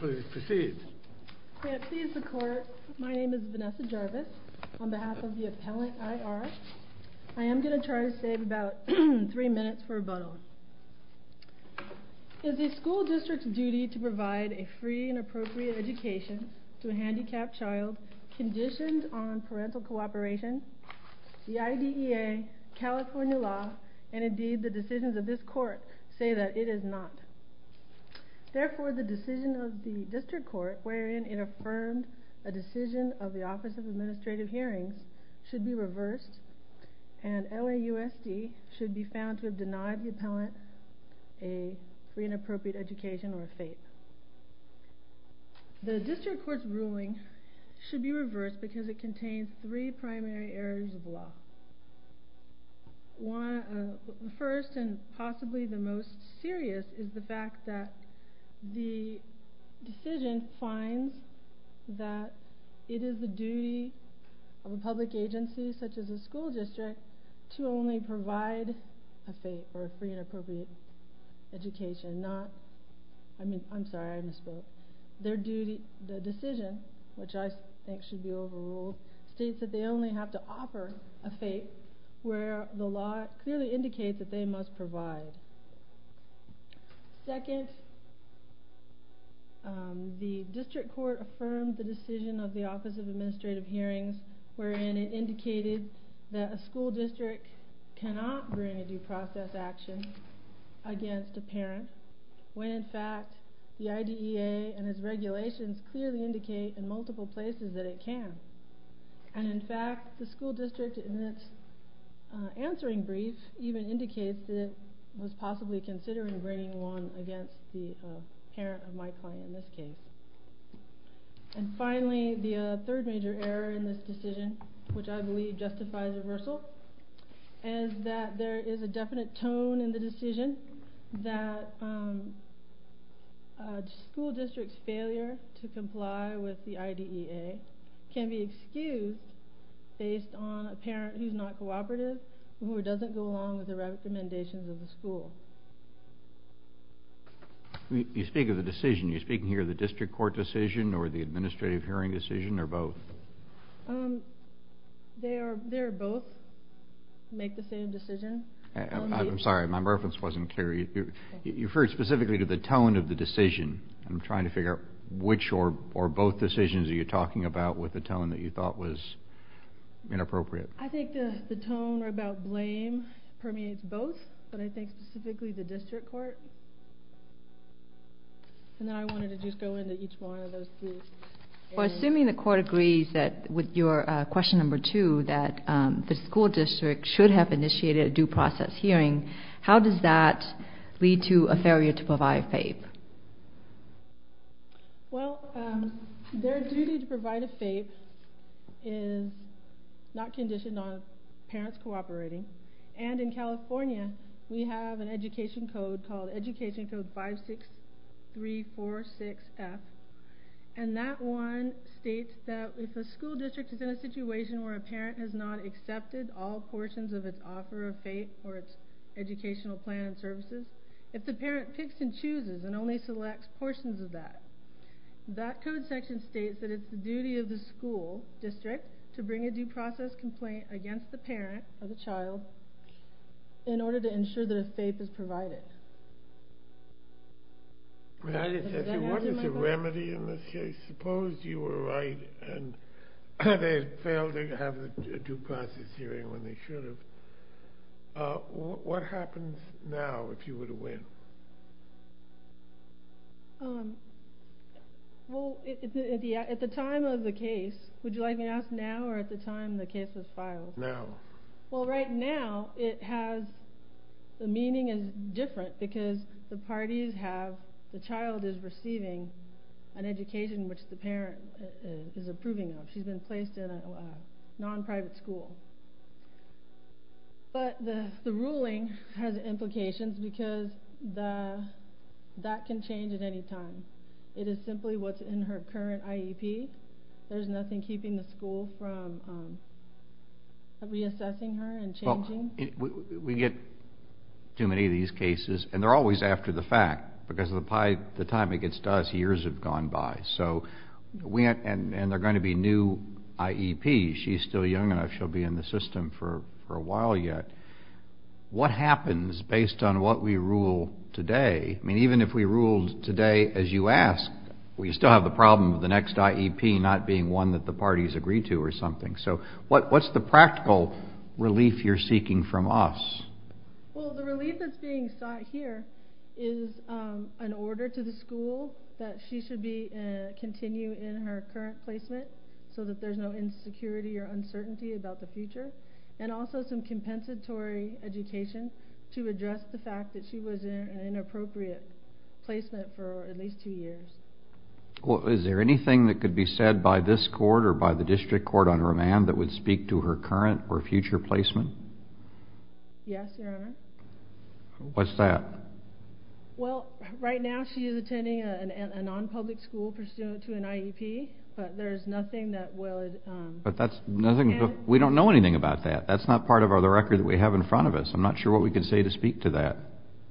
Please proceed. May it please the court, my name is Vanessa Jarvis, on behalf of the appellant I.R. I am going to try to save about three minutes for rebuttal. Is the school district's duty to provide a free and appropriate education to a handicapped child conditioned on parental cooperation? The IDEA, California law, and indeed the decisions of this court say that it is not. Therefore, the decision of the district court wherein it affirmed a decision of the Office of Administrative Hearings should be reversed and LAUSD should be found to have denied the appellant a free and appropriate education or faith. The district court's ruling should be reversed because it contains three primary areas of law. The first and possibly the most serious is the fact that the decision finds that it is the duty of a public agency such as a school district to only provide a free and appropriate education. The decision, which I think should be overruled, states that they only have to offer a faith where the law clearly indicates that they must provide. Second, the district court affirmed the decision of the Office of Administrative Hearings wherein it indicated that a school district cannot bring a due process action against a parent when in fact the IDEA and its regulations clearly indicate in multiple places that it can. And in fact, the school district in its answering brief even indicates that it was possibly considering bringing one against the parent of my client in this case. And finally, the third major error in this decision, which I believe justifies reversal, is that there is a definite tone in the decision that a school district's failure to comply with the IDEA can be excused based on a parent who is not cooperative or doesn't go along with the recommendations of the school. You speak of the decision, are you speaking here of the district court decision or the administrative hearing decision or both? They are both make the same decision. I'm sorry, my reference wasn't clear. You referred specifically to the tone of the decision. I'm trying to figure out which or both decisions are you talking about with the tone that you thought was inappropriate. I think the tone about blame permeates both, but I think specifically the district court. And then I wanted to just go into each one of those. Assuming the court agrees with your question number two that the school district should have initiated a due process hearing, how does that lead to a failure to provide FAPE? Well, their duty to provide a FAPE is not conditioned on parents cooperating. And in California, we have an education code called Education Code 56346F. And that one states that if a school district is in a situation where a parent has not accepted all portions of its offer of FAPE or its educational plan and services, if the parent picks and chooses and only selects portions of that, that code section states that it's the duty of the school district to bring a due process complaint against the parent or the child in order to ensure that a FAPE is provided. What is the remedy in this case? Suppose you were right and they failed to have a due process hearing when they should have. What happens now if you were to win? Well, at the time of the case, would you like me to ask now or at the time the case was filed? Now. Well, right now it has – the meaning is different because the parties have – the child is receiving an education which the parent is approving of. She's been placed in a non-private school. But the ruling has implications because that can change at any time. It is simply what's in her current IEP. There's nothing keeping the school from reassessing her and changing. We get too many of these cases, and they're always after the fact because by the time it gets to us, years have gone by. And there are going to be new IEPs. She's still young enough. She'll be in the system for a while yet. What happens based on what we rule today? I mean, even if we ruled today as you asked, we still have the problem of the next IEP not being one that the parties agree to or something. So what's the practical relief you're seeking from us? Well, the relief that's being sought here is an order to the school that she should continue in her current placement so that there's no insecurity or uncertainty about the future and also some compensatory education to address the fact that she was in an inappropriate placement for at least two years. Well, is there anything that could be said by this court or by the district court on remand that would speak to her current or future placement? Yes, Your Honor. What's that? Well, right now she is attending a non-public school pursuant to an IEP, but there's nothing that would... But that's nothing...we don't know anything about that. That's not part of the record that we have in front of us. I'm not sure what we can say to speak to that.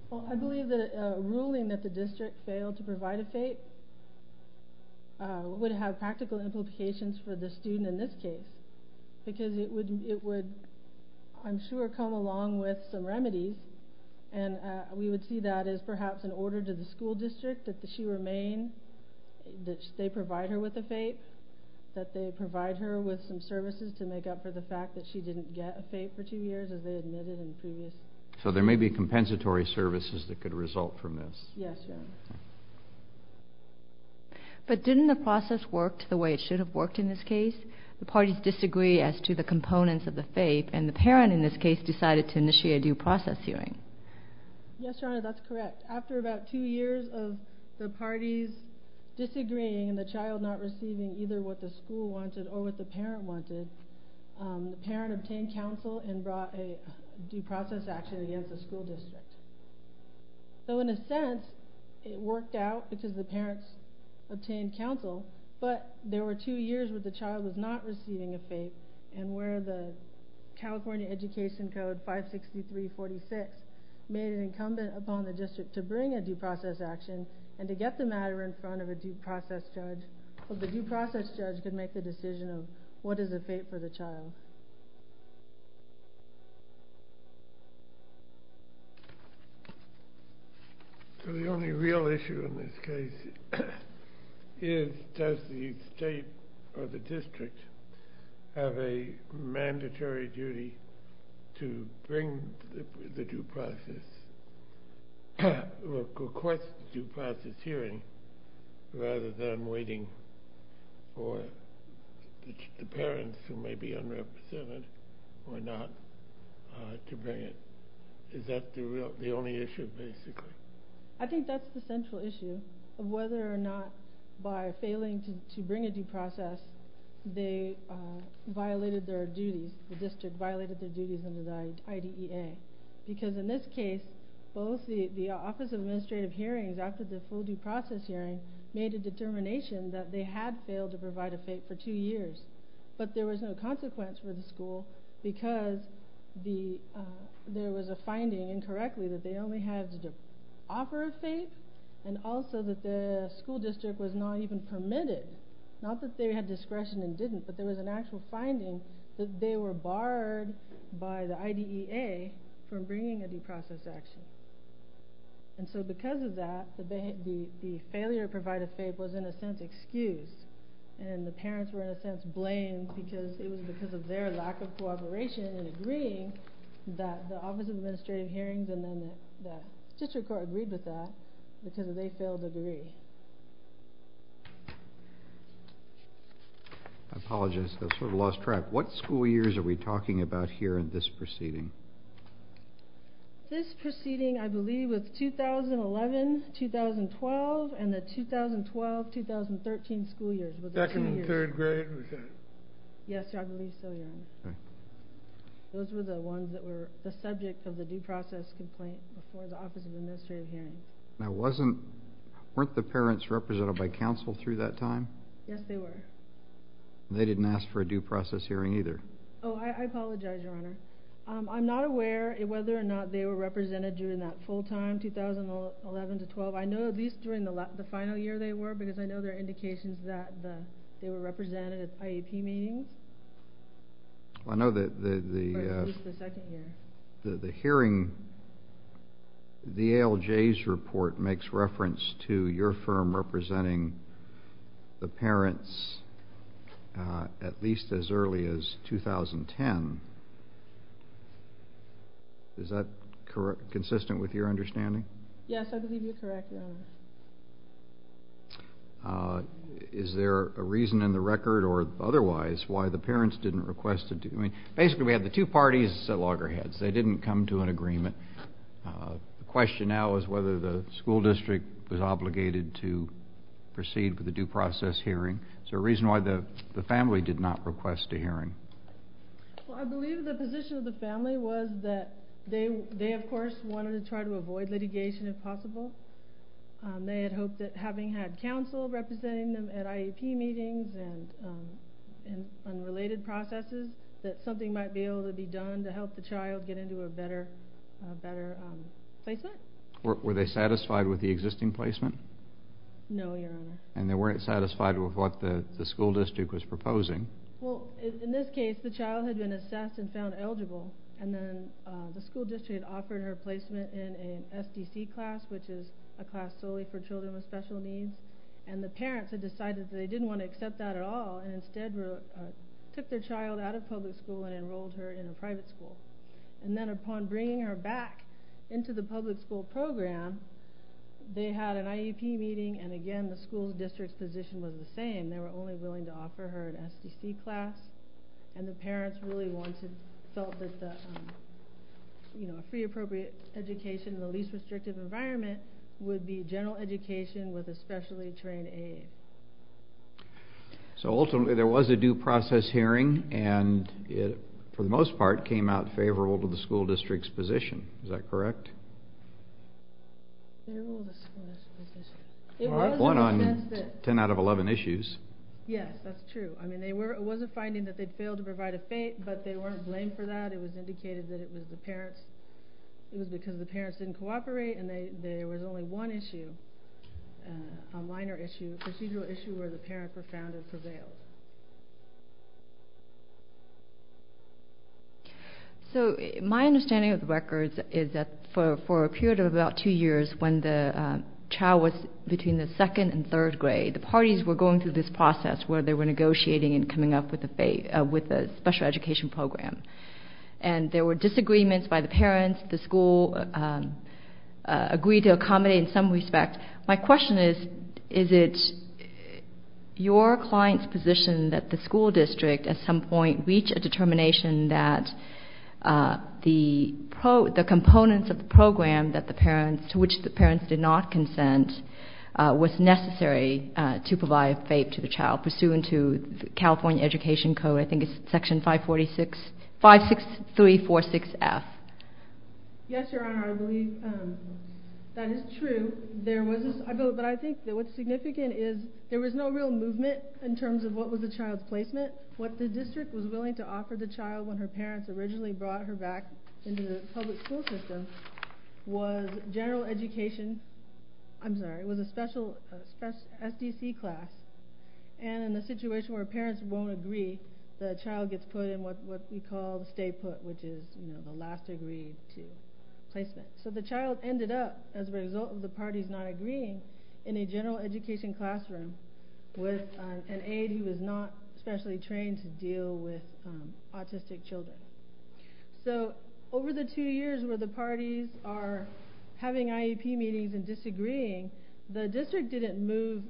Well, I believe that a ruling that the district failed to provide a fate would have practical implications for the student in this case because it would, I'm sure, come along with some remedies, and we would see that as perhaps an order to the school district that she remain, that they provide her with a fate, that they provide her with some services to make up for the fact that she didn't get a fate for two years as they admitted in the previous... So there may be compensatory services that could result from this. Yes, Your Honor. But didn't the process work the way it should have worked in this case? The parties disagree as to the components of the fate, and the parent in this case decided to initiate a due process hearing. Yes, Your Honor, that's correct. After about two years of the parties disagreeing and the child not receiving either what the school wanted or what the parent wanted, the parent obtained counsel and brought a due process action against the school district. So in a sense, it worked out because the parents obtained counsel, but there were two years where the child was not receiving a fate and where the California Education Code 56346 made it incumbent upon the district to bring a due process action and to get the matter in front of a due process judge so the due process judge could make the decision of what is a fate for the child. So the only real issue in this case is does the state or the district have a mandatory duty to bring the due process, request the due process hearing, rather than waiting for the parents, who may be unrepresented or not, to bring it? Is that the only issue, basically? I think that's the central issue of whether or not, by failing to bring a due process, they violated their duties. The district violated their duties under the IDEA. Because in this case, the Office of Administrative Hearings, after the full due process hearing, made a determination that they had failed to provide a fate for two years, but there was no consequence for the school because there was a finding, incorrectly, that they only had the offer of fate and also that the school district was not even permitted. Not that they had discretion and didn't, but there was an actual finding that they were barred by the IDEA from bringing a due process action. And so because of that, the failure to provide a fate was, in a sense, excused. And the parents were, in a sense, blamed because it was because of their lack of cooperation in agreeing that the Office of Administrative Hearings amendment, that the district court agreed with that, because they failed to agree. I apologize. I sort of lost track. What school years are we talking about here in this proceeding? This proceeding, I believe, was 2011-2012 and the 2012-2013 school years. Second and third grade? Yes, I believe so, Your Honor. Okay. Those were the ones that were the subject of the due process complaint before the Office of Administrative Hearings. Now, weren't the parents represented by counsel through that time? Yes, they were. They didn't ask for a due process hearing either? Oh, I apologize, Your Honor. I'm not aware whether or not they were represented during that full-time 2011-2012. I know at least during the final year they were because I know there are indications that they were represented at IEP meetings. I know that the hearing, the ALJ's report makes reference to your firm representing the parents at least as early as 2010. Is that consistent with your understanding? Yes, I believe you're correct, Your Honor. Is there a reason in the record or otherwise why the parents didn't request a due process hearing? Basically, we had the two parties at loggerheads. They didn't come to an agreement. The question now is whether the school district was obligated to proceed with a due process hearing. Is there a reason why the family did not request a hearing? Well, I believe the position of the family was that they, of course, wanted to try to avoid litigation if possible. They had hoped that having had counsel representing them at IEP meetings and related processes, that something might be able to be done to help the child get into a better placement. Were they satisfied with the existing placement? No, Your Honor. And they weren't satisfied with what the school district was proposing? Well, in this case, the child had been assessed and found eligible. And then the school district offered her placement in an SDC class, which is a class solely for children with special needs. And the parents had decided that they didn't want to accept that at all and instead took their child out of public school and enrolled her in a private school. And then upon bringing her back into the public school program, they had an IEP meeting, and again, the school district's position was the same. They were only willing to offer her an SDC class. And the parents really felt that a free, appropriate education in the least restrictive environment would be general education with a specially trained aide. So ultimately, there was a due process hearing, and it, for the most part, came out favorable to the school district's position. Is that correct? One out of ten out of eleven issues. Yes, that's true. I mean, it was a finding that they'd failed to provide a fate, but they weren't blamed for that. It was indicated that it was because the parents didn't cooperate, and there was only one issue, a minor issue, a procedural issue, where the parents were found and prevailed. So my understanding of the records is that for a period of about two years, when the child was between the second and third grade, the parties were going through this process where they were negotiating and coming up with a special education program. And there were disagreements by the parents. The school agreed to accommodate in some respect. My question is, is it your client's position that the school district at some point reached a determination that the components of the program to which the parents did not consent was necessary to provide a fate to the child, pursuant to the California Education Code, I think it's Section 56346F? Yes, Your Honor, I believe that is true. But I think what's significant is there was no real movement in terms of what was the child's placement. What the district was willing to offer the child when her parents originally brought her back into the public school system was general education, I'm sorry, it was a special SDC class. And in a situation where parents won't agree, the child gets put in what we call the stay-put, which is the last degree to placement. So the child ended up, as a result of the parties not agreeing, in a general education classroom with an aide who was not specially trained to deal with autistic children. So over the two years where the parties are having IEP meetings and disagreeing, the district didn't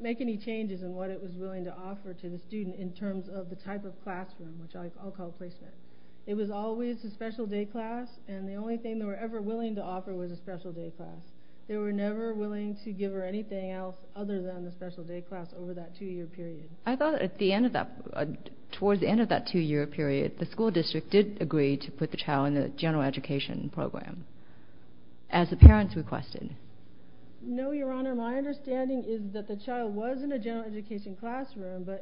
make any changes in what it was willing to offer to the student in terms of the type of classroom, which I'll call placement. It was always a special day class, and the only thing they were ever willing to offer was a special day class. They were never willing to give her anything else other than the special day class over that two-year period. I thought at the end of that, towards the end of that two-year period, the school district did agree to put the child in the general education program, as the parents requested. No, Your Honor, my understanding is that the child was in a general education classroom, but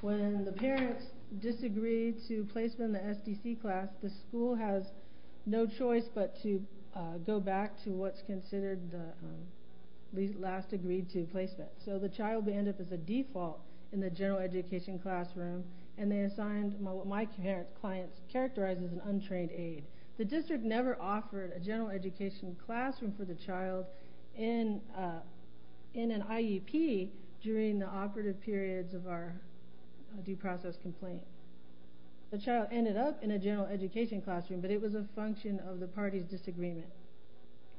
when the parents disagreed to placement in the SDC class, the school has no choice but to go back to what's considered the last degree to placement. So the child would end up as a default in the general education classroom, and they assigned what my client characterized as an untrained aide. The district never offered a general education classroom for the child in an IEP during the operative periods of our due process complaint. The child ended up in a general education classroom, but it was a function of the parties' disagreement.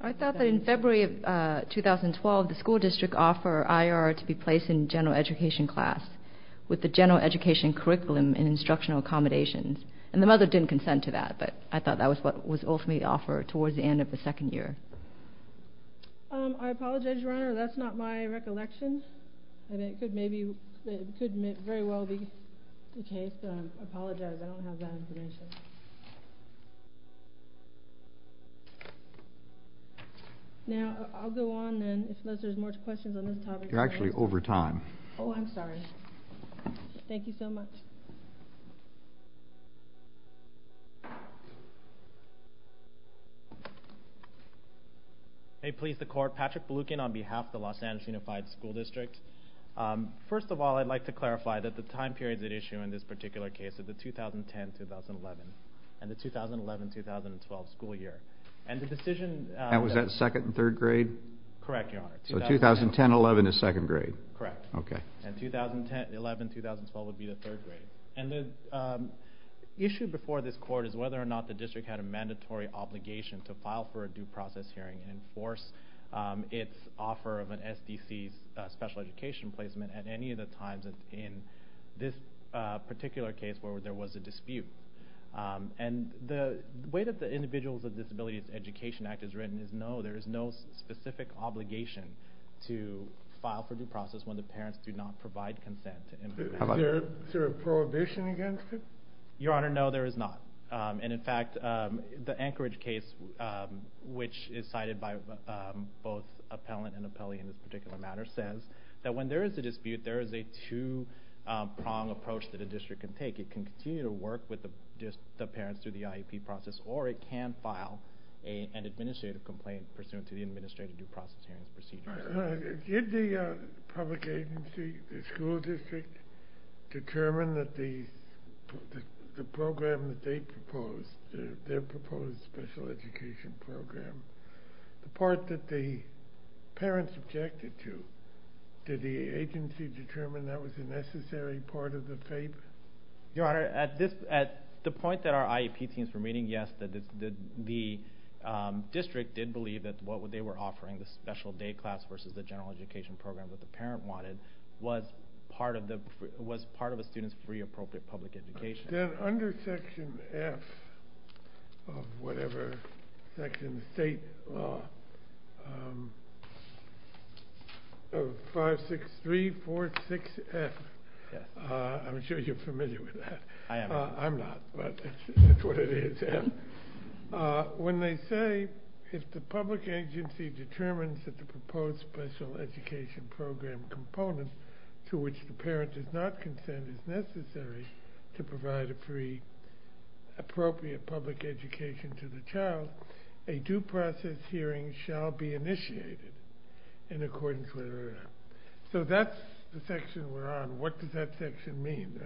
I thought that in February of 2012, the school district offered IRR to be placed in general education class with the general education curriculum and instructional accommodations, and the mother didn't consent to that, but I thought that was what was ultimately offered towards the end of the second year. I apologize, Your Honor, that's not my recollection, and it could very well be the case. I apologize, I don't have that information. Now, I'll go on then, unless there's more questions on this topic. You're actually over time. Oh, I'm sorry. Thank you so much. May it please the Court, Patrick Beloukin on behalf of the Los Angeles Unified School District. First of all, I'd like to clarify that the time period at issue in this particular case is the 2010-2011 and the 2011-2012 school year. And was that second and third grade? Correct, Your Honor. So 2010-11 is second grade? Correct. Okay. And 2011-2012 would be the third grade. And the issue before this Court is whether or not the district had a mandatory obligation to file for a due process hearing and enforce its offer of an SDC special education placement at any of the times in this particular case where there was a dispute. And the way that the Individuals with Disabilities Education Act is written is no, there is no specific obligation to file for due process when the parents do not provide consent. Is there a prohibition against it? Your Honor, no, there is not. And, in fact, the Anchorage case, which is cited by both appellant and appellee in this particular matter, says that when there is a dispute, there is a two-prong approach that a district can take. It can continue to work with the parents through the IEP process, or it can file an administrative complaint pursuant to the administrative due process hearing procedure. Did the public agency, the school district, determine that the program that they proposed, their proposed special education program, the part that the parents objected to, did the agency determine that was a necessary part of the favor? Your Honor, at the point that our IEP teams were meeting, yes, the district did believe that what they were offering, the special day class versus the general education program that the parent wanted, was part of a student's free appropriate public education. Then under Section F of whatever, Section State Law, 56346F, I'm sure you're familiar with that. I'm not, but that's what it is. When they say, if the public agency determines that the proposed special education program component to which the parent does not consent is necessary to provide a free appropriate public education to the child, a due process hearing shall be initiated in accordance with the order. So that's the section we're on. What does that section mean?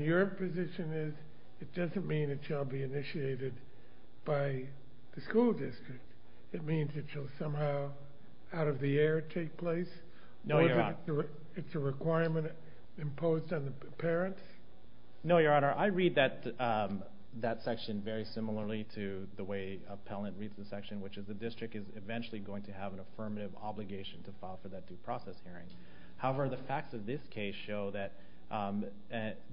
Your position is it doesn't mean it shall be initiated by the school district. It means it shall somehow out of the air take place? No, Your Honor. It's a requirement imposed on the parents? No, Your Honor. I read that section very similarly to the way appellant reads the section, which is the district is eventually going to have an affirmative obligation to file for that due process hearing. However, the facts of this case show that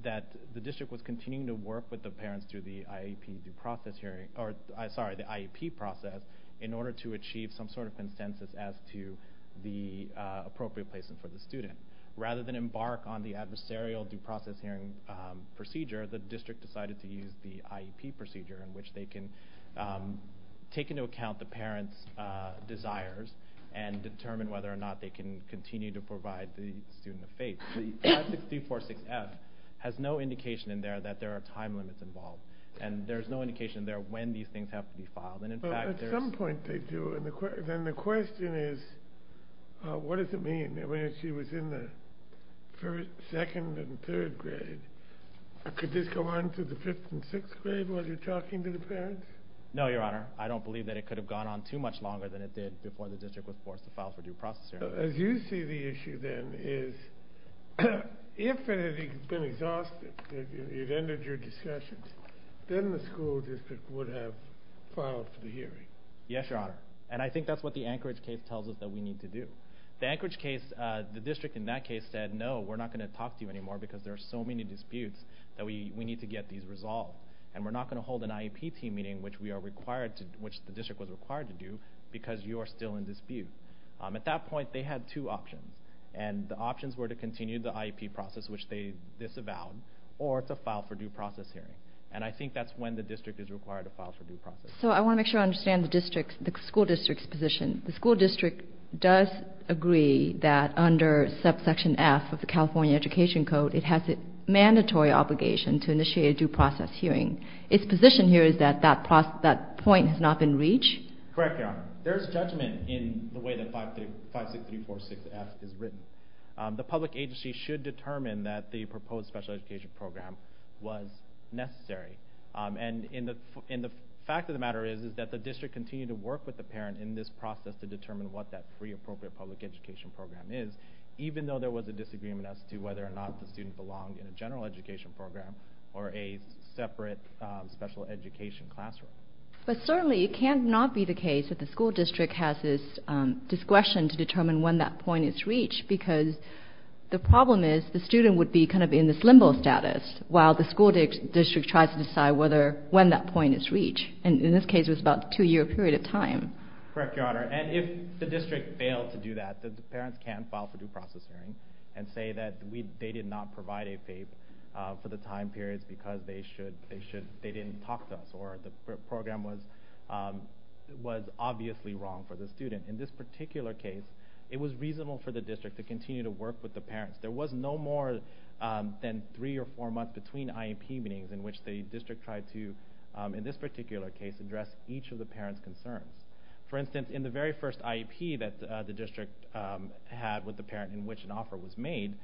the district was continuing to work with the parents through the IEP process in order to achieve some sort of consensus as to the appropriate placement for the student. Rather than embark on the adversarial due process hearing procedure, the district decided to use the IEP procedure in which they can take into account the parents' desires and determine whether or not they can continue to provide the student a face. The 56346F has no indication in there that there are time limits involved, and there's no indication in there when these things have to be filed. Well, at some point they do, and then the question is, what does it mean? I mean, she was in the second and third grade. Could this go on to the fifth and sixth grade while you're talking to the parents? No, Your Honor. I don't believe that it could have gone on too much longer than it did before the district was forced to file for due process hearing. As you see the issue, then, is if it had been exhausted, it ended your discussions, then the school district would have filed for the hearing. Yes, Your Honor, and I think that's what the Anchorage case tells us that we need to do. The Anchorage case, the district in that case said, no, we're not going to talk to you anymore because there are so many disputes that we need to get these resolved, and we're not going to hold an IEP team meeting, which the district was required to do, because you are still in dispute. At that point, they had two options, and the options were to continue the IEP process, which they disavowed, or to file for due process hearing. And I think that's when the district is required to file for due process. So I want to make sure I understand the school district's position. The school district does agree that under subsection F of the California Education Code, it has a mandatory obligation to initiate a due process hearing. Its position here is that that point has not been reached? Correct, Your Honor. There is judgment in the way that 56346F is written. The public agency should determine that the proposed special education program was necessary. And the fact of the matter is that the district continued to work with the parent in this process to determine what that pre-appropriate public education program is, even though there was a disagreement as to whether or not the student belonged in a general education program or a separate special education classroom. But certainly it cannot be the case that the school district has this discretion to determine when that point is reached, because the problem is the student would be kind of in this limbo status while the school district tries to decide when that point is reached. And in this case, it was about a two-year period of time. Correct, Your Honor. And if the district failed to do that, the parents can file for due process hearing and say that they did not provide a FAPE for the time periods because they didn't talk to us or the program was obviously wrong for the student. In this particular case, it was reasonable for the district to continue to work with the parents. There was no more than three or four months between IEP meetings in which the district tried to, in this particular case, address each of the parents' concerns. For instance, in the very first IEP that the district had with the parent in which an offer was made,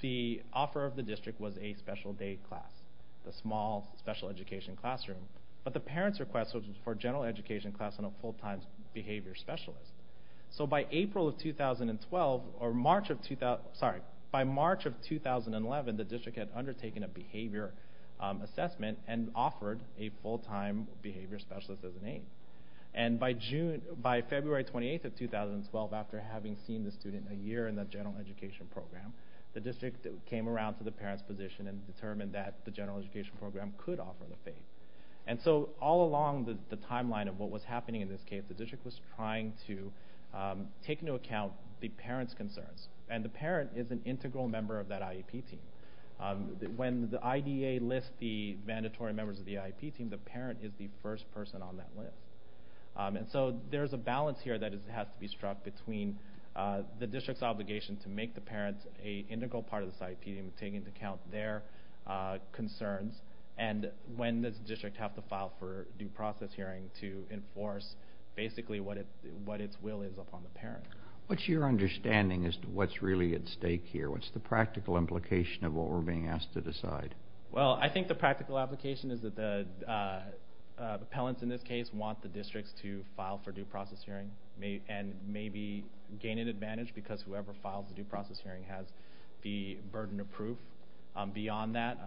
the offer of the district was a special day class, a small special education classroom. But the parents' request was for a general education class on a full-time behavior specialist. So by March of 2011, the district had undertaken a behavior assessment and offered a full-time behavior specialist as an aide. And by February 28, 2012, after having seen the student a year in the general education program, the district came around to the parent's position and determined that the general education program could offer the FAPE. And so all along the timeline of what was happening in this case, the district was trying to take into account the parent's concerns. And the parent is an integral member of that IEP team. When the IDA lists the mandatory members of the IEP team, the parent is the first person on that list. And so there's a balance here that has to be struck between the district's obligation to make the parents an integral part of this IEP team, taking into account their concerns, and when this district has to file for due process hearing to enforce basically what its will is upon the parent. What's your understanding as to what's really at stake here? What's the practical implication of what we're being asked to decide? Well, I think the practical application is that the appellants in this case want the districts to file for due process hearing and maybe gain an advantage because whoever files the due process hearing has the burden of proof beyond that.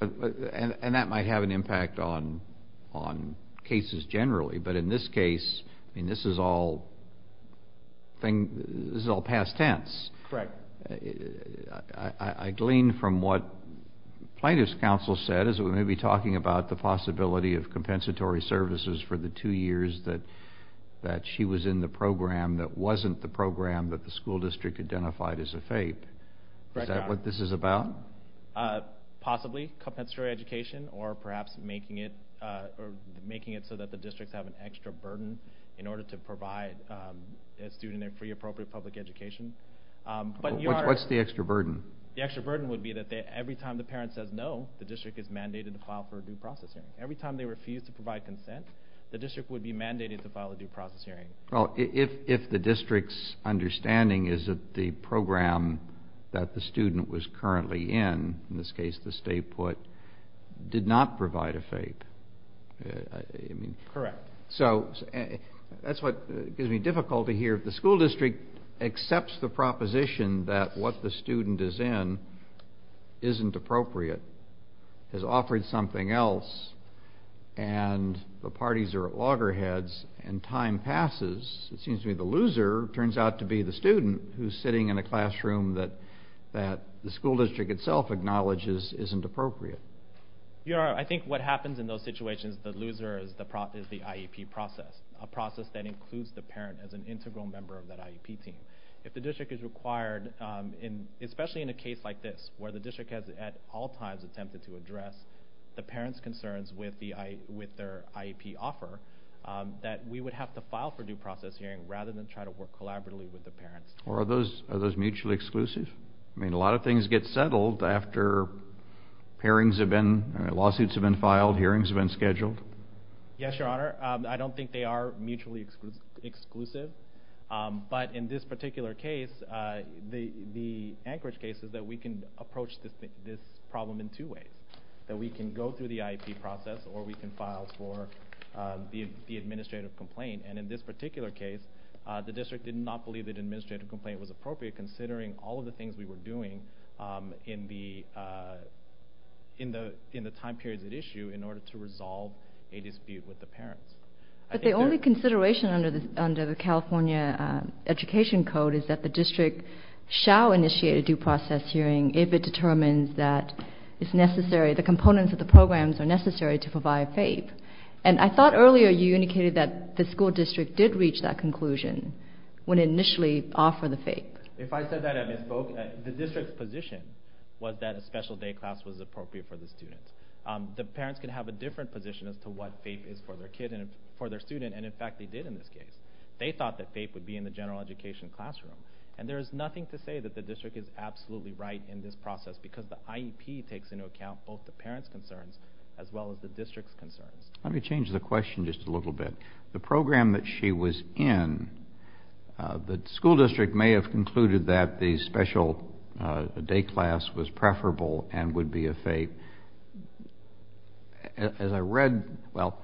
And that might have an impact on cases generally. But in this case, this is all past tense. Correct. I glean from what plaintiff's counsel said, as we may be talking about the possibility of compensatory services for the two years that she was in the program that wasn't the program that the school district identified as a FAPE. Is that what this is about? Possibly. Possibly compensatory education or perhaps making it so that the districts have an extra burden in order to provide a student a free, appropriate public education. What's the extra burden? The extra burden would be that every time the parent says no, the district is mandated to file for a due process hearing. Every time they refuse to provide consent, the district would be mandated to file a due process hearing. Well, if the district's understanding is that the program that the student was currently in, in this case the stay put, did not provide a FAPE. Correct. So that's what gives me difficulty here. If the school district accepts the proposition that what the student is in isn't appropriate, has offered something else, and the parties are at loggerheads and time passes, it seems to me the loser turns out to be the student who's sitting in a classroom that the school district itself acknowledges isn't appropriate. I think what happens in those situations, the loser is the IEP process, a process that includes the parent as an integral member of that IEP team. If the district is required, especially in a case like this, where the district has at all times attempted to address the parent's concerns with their IEP offer, that we would have to file for due process hearing rather than try to work collaboratively with the parents. Are those mutually exclusive? I mean, a lot of things get settled after hearings have been, lawsuits have been filed, hearings have been scheduled. Yes, Your Honor. I don't think they are mutually exclusive, but in this particular case, the Anchorage case is that we can approach this problem in two ways, that we can go through the IEP process or we can file for the administrative complaint, and in this particular case, the district did not believe the administrative complaint was appropriate considering all of the things we were doing in the time periods at issue in order to resolve a dispute with the parents. But the only consideration under the California Education Code is that the district shall initiate a due process hearing if it determines that it's necessary, the components of the programs are necessary to provide faith. And I thought earlier you indicated that the school district did reach that conclusion when it initially offered the faith. If I said that, I misspoke. The district's position was that a special day class was appropriate for the students. The parents can have a different position as to what faith is for their student, and in fact they did in this case. They thought that faith would be in the general education classroom, and there is nothing to say that the district is absolutely right in this process because the IEP takes into account both the parents' concerns as well as the district's concerns. Let me change the question just a little bit. The program that she was in, the school district may have concluded that the special day class was preferable and would be a faith. As I read, well,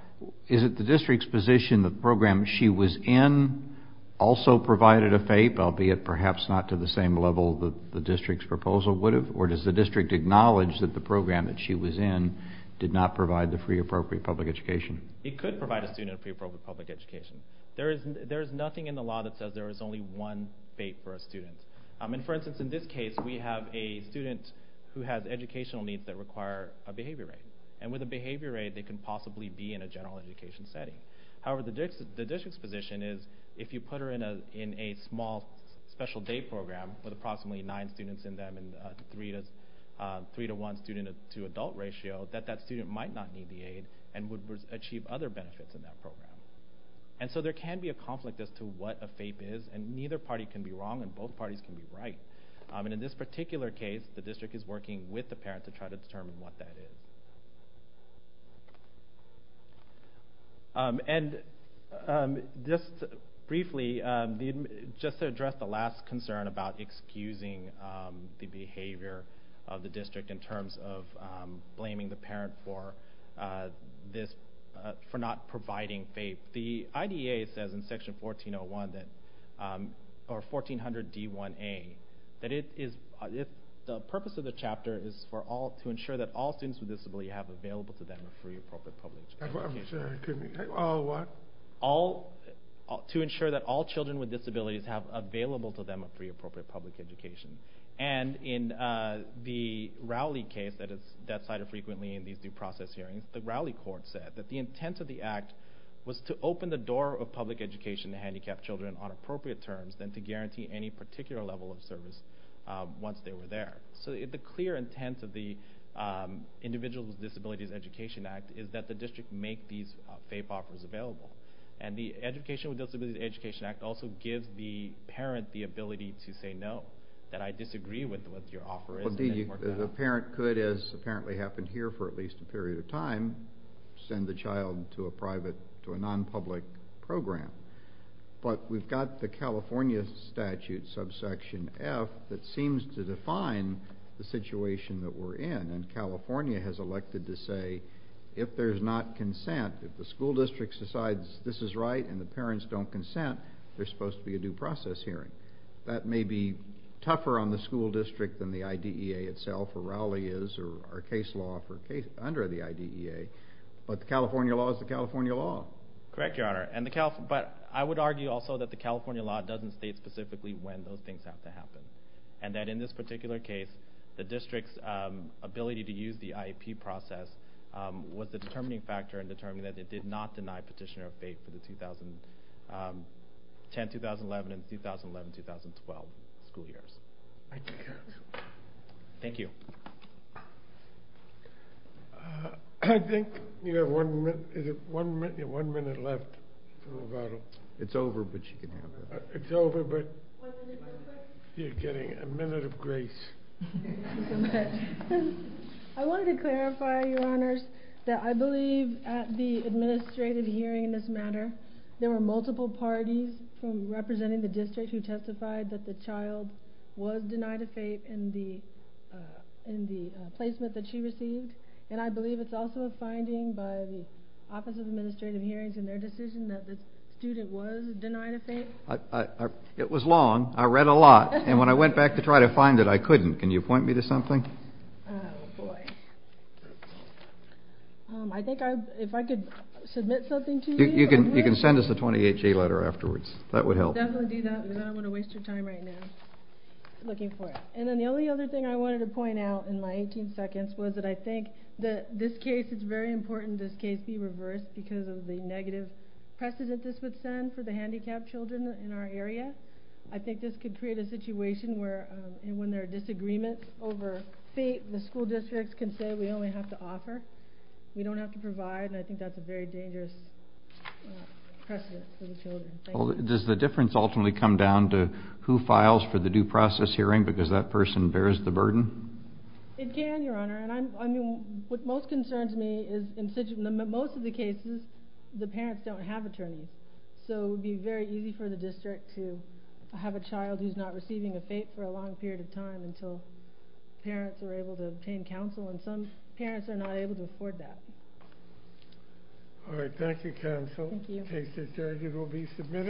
is it the district's position the program she was in also provided a faith, albeit perhaps not to the same level that the district's proposal would have, or does the district acknowledge that the program that she was in did not provide the free appropriate public education? It could provide a student a free appropriate public education. There is nothing in the law that says there is only one faith for a student. For instance, in this case we have a student who has educational needs that require a behavior aid, and with a behavior aid they can possibly be in a general education setting. However, the district's position is if you put her in a small special day program with approximately nine students in them and a three-to-one student-to-adult ratio, that that student might not need the aid and would achieve other benefits in that program. And so there can be a conflict as to what a faith is, and neither party can be wrong and both parties can be right. And in this particular case, the district is working with the parent to try to determine what that is. And just briefly, just to address the last concern about excusing the behavior of the district in terms of blaming the parent for not providing faith, the IDA says in section 1401, or 1400D1A, that the purpose of the chapter is to ensure that all students with disabilities have available to them a free appropriate public education. I'm sorry, excuse me, all what? To ensure that all children with disabilities have available to them a free appropriate public education. And in the Rowley case, that is cited frequently in these due process hearings, the Rowley court said that the intent of the act was to open the door of public education to handicapped children on appropriate terms than to guarantee any particular level of service once they were there. So the clear intent of the Individuals with Disabilities Education Act is that the district make these faith offers available. And the Education with Disabilities Education Act also gives the parent the ability to say no, that I disagree with what your offer is. Indeed, the parent could, as apparently happened here for at least a period of time, send the child to a private, to a non-public program. But we've got the California statute, subsection F, that seems to define the situation that we're in. And California has elected to say, if there's not consent, if the school district decides this is right and the parents don't consent, there's supposed to be a due process hearing. That may be tougher on the school district than the IDEA itself, or Rowley is, or our case law under the IDEA. But the California law is the California law. Correct, Your Honor. But I would argue also that the California law doesn't state specifically when those things have to happen. And that in this particular case, the district's ability to use the IEP process was the determining factor in determining that it did not deny petitioner of faith for the 2010, 2011, and 2011-2012 school years. Thank you, Your Honor. Thank you. I think you have one minute left to move on. It's over, but you can have it. It's over, but you're getting a minute of grace. Thank you so much. I wanted to clarify, Your Honors, that I believe at the administrative hearing in this matter, there were multiple parties representing the district who testified that the child was denied of faith in the placement that she received. And I believe it's also a finding by the Office of Administrative Hearings in their decision that the student was denied of faith. It was long. I read a lot. And when I went back to try to find it, I couldn't. Can you point me to something? Oh, boy. I think if I could submit something to you. You can send us a 28-J letter afterwards. That would help. Definitely do that, because I don't want to waste your time right now looking for it. And then the only other thing I wanted to point out in my 18 seconds was that I think that this case, it's very important this case be reversed because of the negative precedent this would send for the handicapped children in our area. I think this could create a situation where when there are disagreements over faith, the school districts can say we only have to offer. We don't have to provide. And I think that's a very dangerous precedent for the children. Does the difference ultimately come down to who files for the due process hearing because that person bears the burden? It can, Your Honor. And what most concerns me is in most of the cases, the parents don't have attorneys. So it would be very easy for the district to have a child who's not receiving a fate for a long period of time until parents are able to obtain counsel, and some parents are not able to afford that. All right. Thank you, counsel. Thank you. The case is adjourned. It will be submitted.